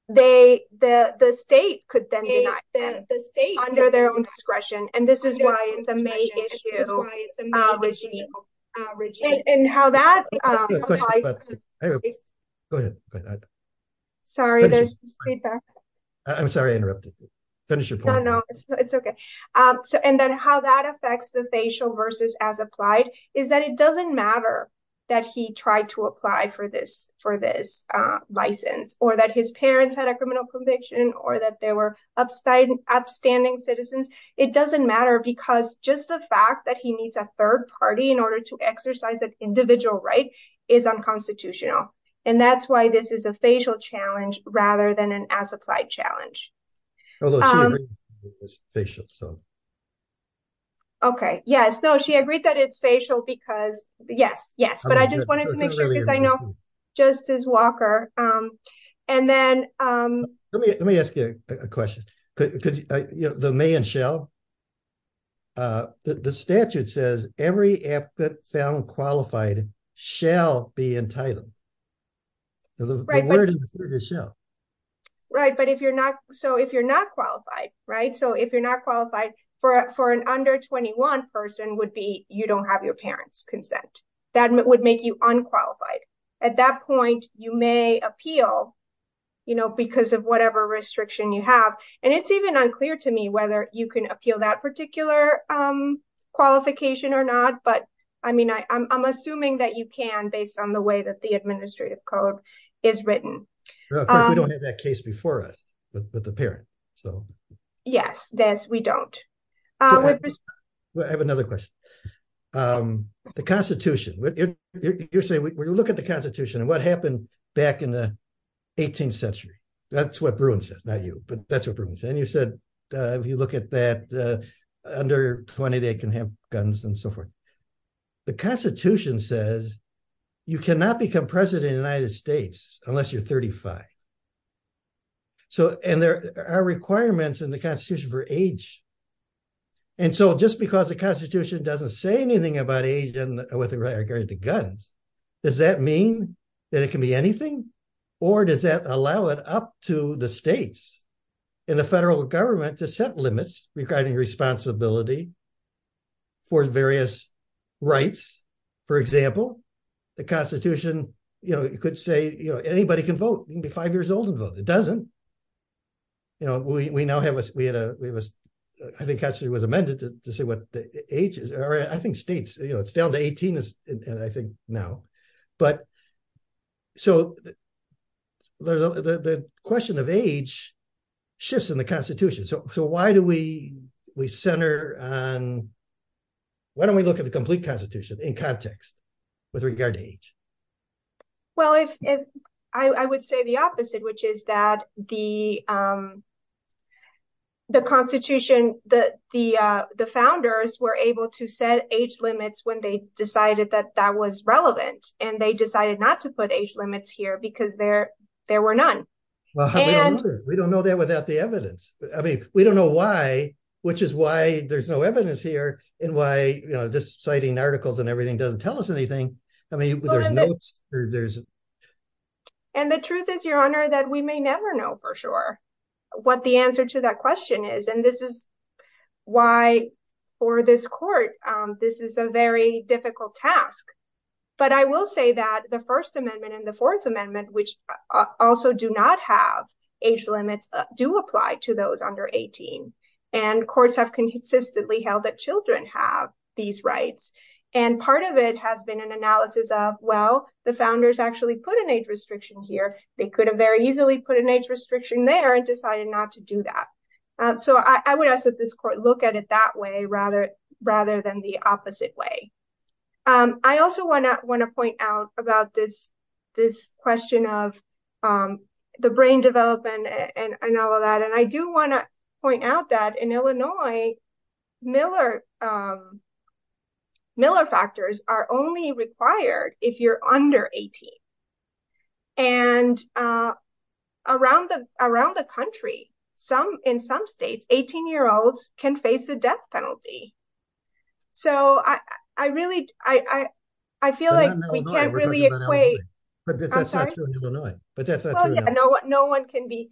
they, the state could then be the state under their own discretion. And this is why it's amazing. And how that affects the facial versus as applied, is that it doesn't matter that he tried to apply for this, for this license, or that his parents had a criminal conviction, or that they were upstanding citizens. It doesn't matter because just the fact that he needs a third party in constitutional. And that's why this is a facial challenge rather than an as applied challenge. Okay. Yes. No, she agreed that it's facial because, yes, yes. But I just wanted to make sure because I know Justice Walker, and then, let me, let me ask you a question. You know, the may and shall, the statute says every affidavit found qualified shall be entitled. Right. But if you're not, so if you're not qualified, right, so if you're not qualified for, for an under 21 person would be, you don't have your parents' consent. That would make you unqualified. At that point, you may appeal, you know, because of whatever restriction you have. It's even unclear to me whether you can appeal that particular qualification or not. But, I mean, I'm assuming that you can based on the way that the administrative code is written. We don't have that case before us with the parent. So, yes, yes, we don't. I have another question. The Constitution, you're saying we look at the Constitution and what you said, if you look at that under 20, they can have guns and so forth. The Constitution says you cannot become President of the United States unless you're 35. So, and there are requirements in the Constitution for age. And so, just because the Constitution doesn't say anything about age and with regard to guns, does that mean that it can be anything? Or does that allow it up to the states and the federal government to set limits regarding responsibility for various rights? For example, the Constitution, you know, you could say, you know, anybody can vote. You can be five years old and vote. It doesn't. You know, we now have, we had a, we have a, I think it was amended to say what the age is. I think states, you know, down to 18 and I think now, but so the question of age shifts in the Constitution. So, why do we center on, why don't we look at the complete Constitution in context with regard to age? Well, I would say the opposite, which is that the Constitution, the founders were able to set age limits when they decided that that was relevant. And they decided not to put age limits here because there were none. Well, we don't know that without the evidence. I mean, we don't know why, which is why there's no evidence here and why, you know, just citing articles and everything doesn't tell us anything. I mean, there's no, there's. And the truth is, Your Honor, that we may never know for sure what the answer to that question is. And this is why for this court, this is a very difficult task. But I will say that the First Amendment and the Fourth Amendment, which also do not have age limits, do apply to those under 18. And courts have consistently held that children have these rights. And part of it has been an analysis of, well, the founders actually put an age restriction here. They could have very easily put an age restriction there and decided not to do that. So I would ask that this court look at it that way, rather than the opposite way. I also want to point out about this question of the brain development and all of that. And I do want to point out that in Illinois, Miller factors are only required if you're under 18. And around the country, in some states, 18-year-olds can face the death penalty. So I really, I feel like we can't really equate. But that's not true in Illinois. No one can be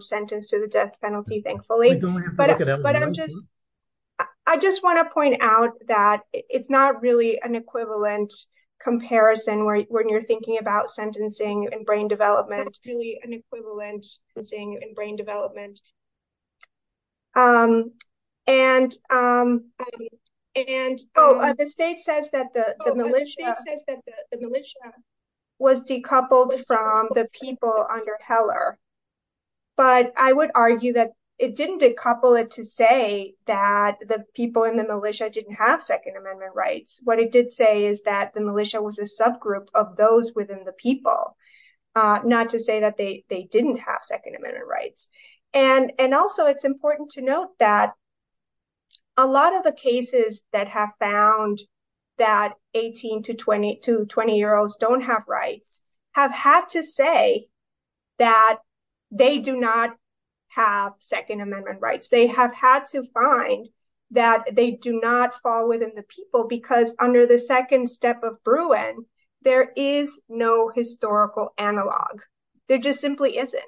sentenced to the death penalty, thankfully. But I just want to point out that it's not really an equivalent comparison when you're thinking about sentencing and brain development. It's really an equivalent thing in brain development. And the state says that the militia was decoupled from the people under Heller. But I would argue that it didn't decouple it to say that the people in the militia didn't have Second Amendment rights. What it did say is that the militia was a subgroup of those within the people, not to say that they didn't have Second Amendment rights. And also, it's important to note that a lot of the cases that have found that 18 to 20-year-olds don't have rights have had to say that they do not have Second Amendment rights. They have had to find that they do not fall within the people because under the second step of Bruin, there is no historical analog. There just simply isn't.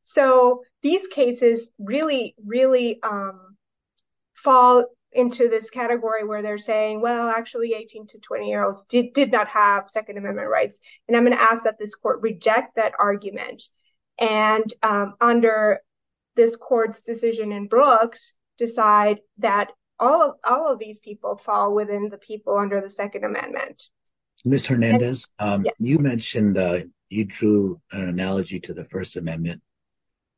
So these cases really, really fall into this category where they're saying, well, actually, 18 to 20-year-olds did not have Second Amendment rights. And I'm asking that this court reject that argument. And under this court's decision in Brooks, decide that all of these people fall within the people under the Second Amendment. Ms. Hernandez, you mentioned, you drew an analogy to the First Amendment.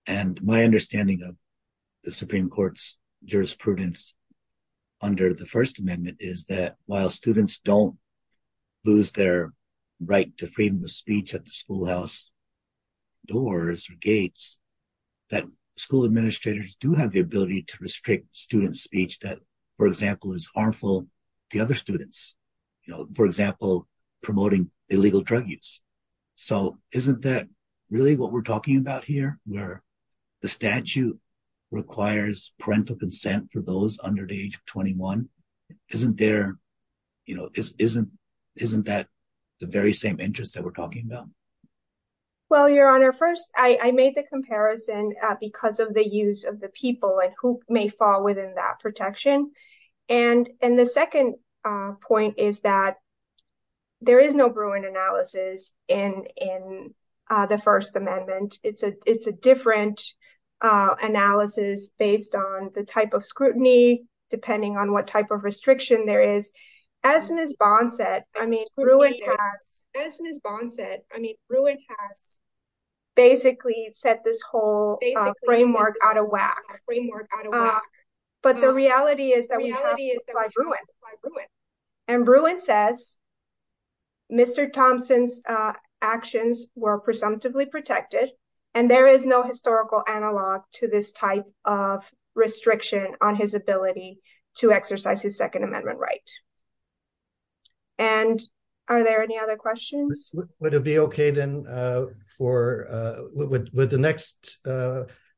And my understanding of the Supreme Court's jurisprudence under the First Amendment is that while students don't lose their right to freedom of speech at the schoolhouse doors or gates, that school administrators do have the ability to restrict students' speech that, for example, is harmful to other students, for example, promoting illegal drug use. So isn't that really what we're talking about here, where the statute requires parental consent for those under the age of 21? Isn't that the very same interest that we're talking about? Well, Your Honor, first, I made the comparison because of the use of the people and who may fall within that protection. And the second point is that there is no Bruin analysis in the First Amendment. There is a different analysis based on the type of scrutiny, depending on what type of restriction there is. As Ms. Bond said, I mean, Bruin has basically set this whole framework out of whack. But the reality is that we have to apply Bruin. And Bruin says Mr. Thompson's actions were presumptively protected. And there is no historical analog to this type of restriction on his ability to exercise his Second Amendment right. And are there any other questions? Would it be okay then for, would the next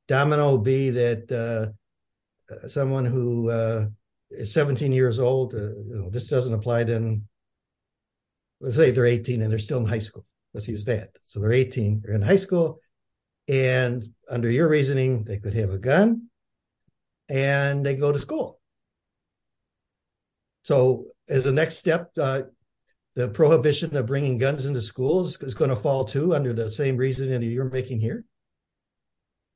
domino be that someone who is 17 years old, this doesn't apply then, let's say they're 18 and they're still in high school. Let's use that. So they're 18, they're in high school. And under your reasoning, they could have a gun and they go to school. So as a next step, the prohibition of bringing guns into schools is going to fall too under the same reasoning that you're making here?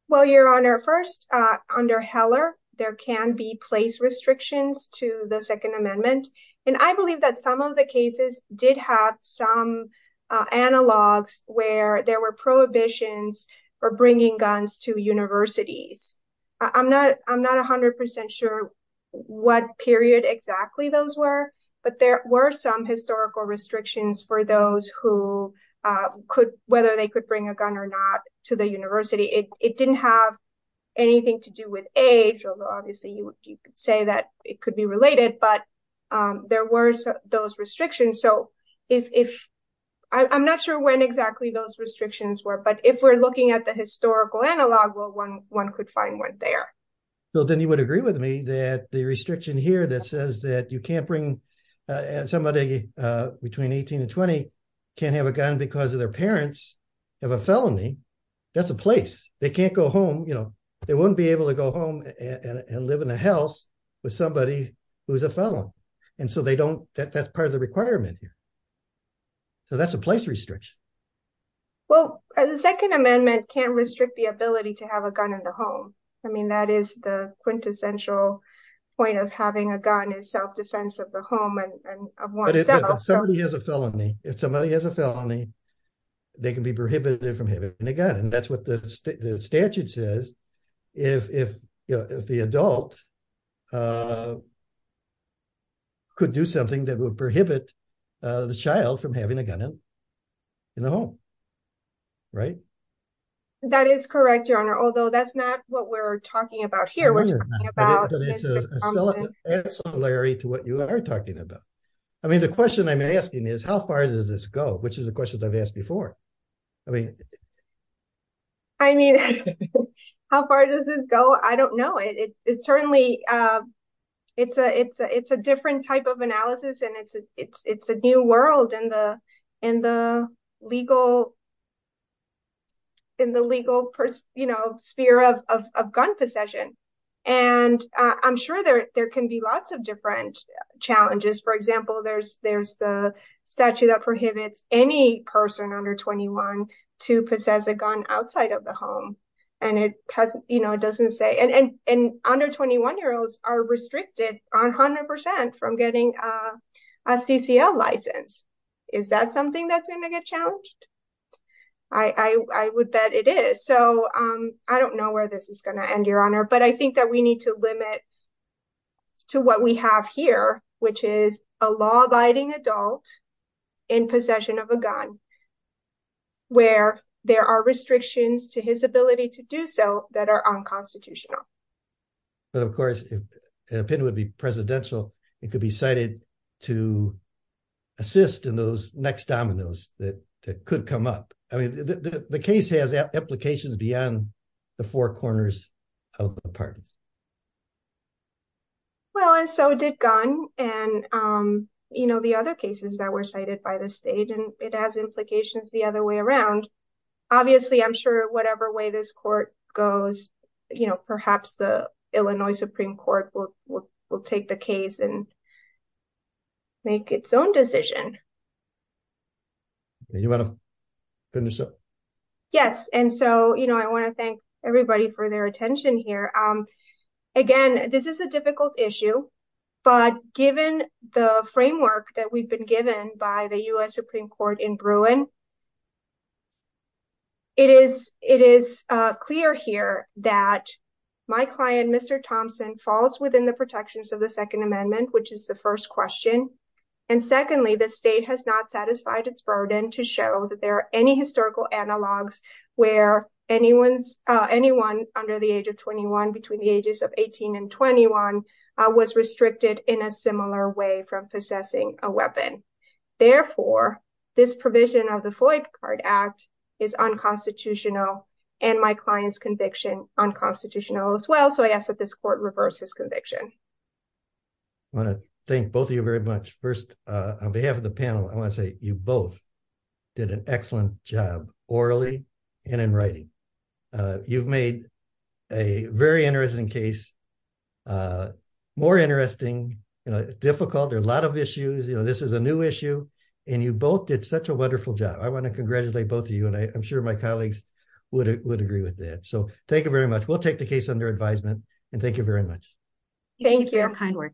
Well, Your Honor, first, under Heller, there can be place restrictions to the Second Amendment. And I believe that some of the cases did have some analogs where there were prohibitions for bringing guns to universities. I'm not 100% sure what period exactly those were, but there were some historical restrictions for those who could, whether they could bring a gun or not to the university. It didn't have anything to do with age, although obviously you could say that it could be related, but there were those restrictions. So I'm not sure when exactly those restrictions were, but if we're looking at the historical analog, well, one could find one there. Well, then you would agree with me that the restriction here that says that you can't bring somebody between 18 and 20 can't have a gun because of their parents have a felony. That's a place. They can't go home. They wouldn't be able to go home and live in a house with somebody who's a felon. And so that's part of the requirement here. So that's a place restriction. Well, the Second Amendment can't restrict the ability to have a gun in the home. I mean, that is the quintessential point of having a gun is self-defense of the home. But if somebody has a felony, if somebody has a felony, they can be prohibited from having a gun. And that's what the statute says. If the adult could do something that would prohibit the child from having a gun in the home, right? That is correct, Your Honor. Although that's not what we're talking about here. We're talking about... It's ancillary to what you are talking about. I mean, the question I'm asking is how far does this go, which is the question I've before. I mean... I mean, how far does this go? I don't know. It's a different type of analysis, and it's a new world in the legal sphere of gun possession. And I'm sure there can be lots of under 21 to possess a gun outside of the home. And under 21-year-olds are restricted 100% from getting a CCL license. Is that something that's going to get challenged? I would bet it is. So I don't know where this is going to end, Your Honor. But I think that we need to limit to what we have here, which is a law-abiding adult in possession of a gun, where there are restrictions to his ability to do so that are unconstitutional. But of course, if an opinion would be presidential, it could be cited to assist in those next dominoes that could come up. I mean, the case has implications beyond the four corners of the apartment. Well, and so did gun and the other cases that were cited by the state, and it has implications the other way around. Obviously, I'm sure whatever way this court goes, perhaps the Illinois Supreme Court will take the case and make its own decision. You want to finish up? Yes. And so I want to thank everybody for their attention here. Again, this is a difficult issue. But given the framework that we've been given by the U.S. Supreme Court in Bruin, it is clear here that my client, Mr. Thompson, falls within the protections of the U.S. Supreme Court. The state has not satisfied its burden to show that there are any historical analogs where anyone under the age of 21, between the ages of 18 and 21, was restricted in a similar way from possessing a weapon. Therefore, this provision of the Floyd Card Act is unconstitutional and my client's conviction unconstitutional as well. So I ask that this court reverse his You both did an excellent job orally and in writing. You've made a very interesting case, more interesting, difficult. There are a lot of issues. This is a new issue, and you both did such a wonderful job. I want to congratulate both of you, and I'm sure my colleagues would agree with that. So thank you very much. We'll take the case under advisement, and thank you very much. Thank you.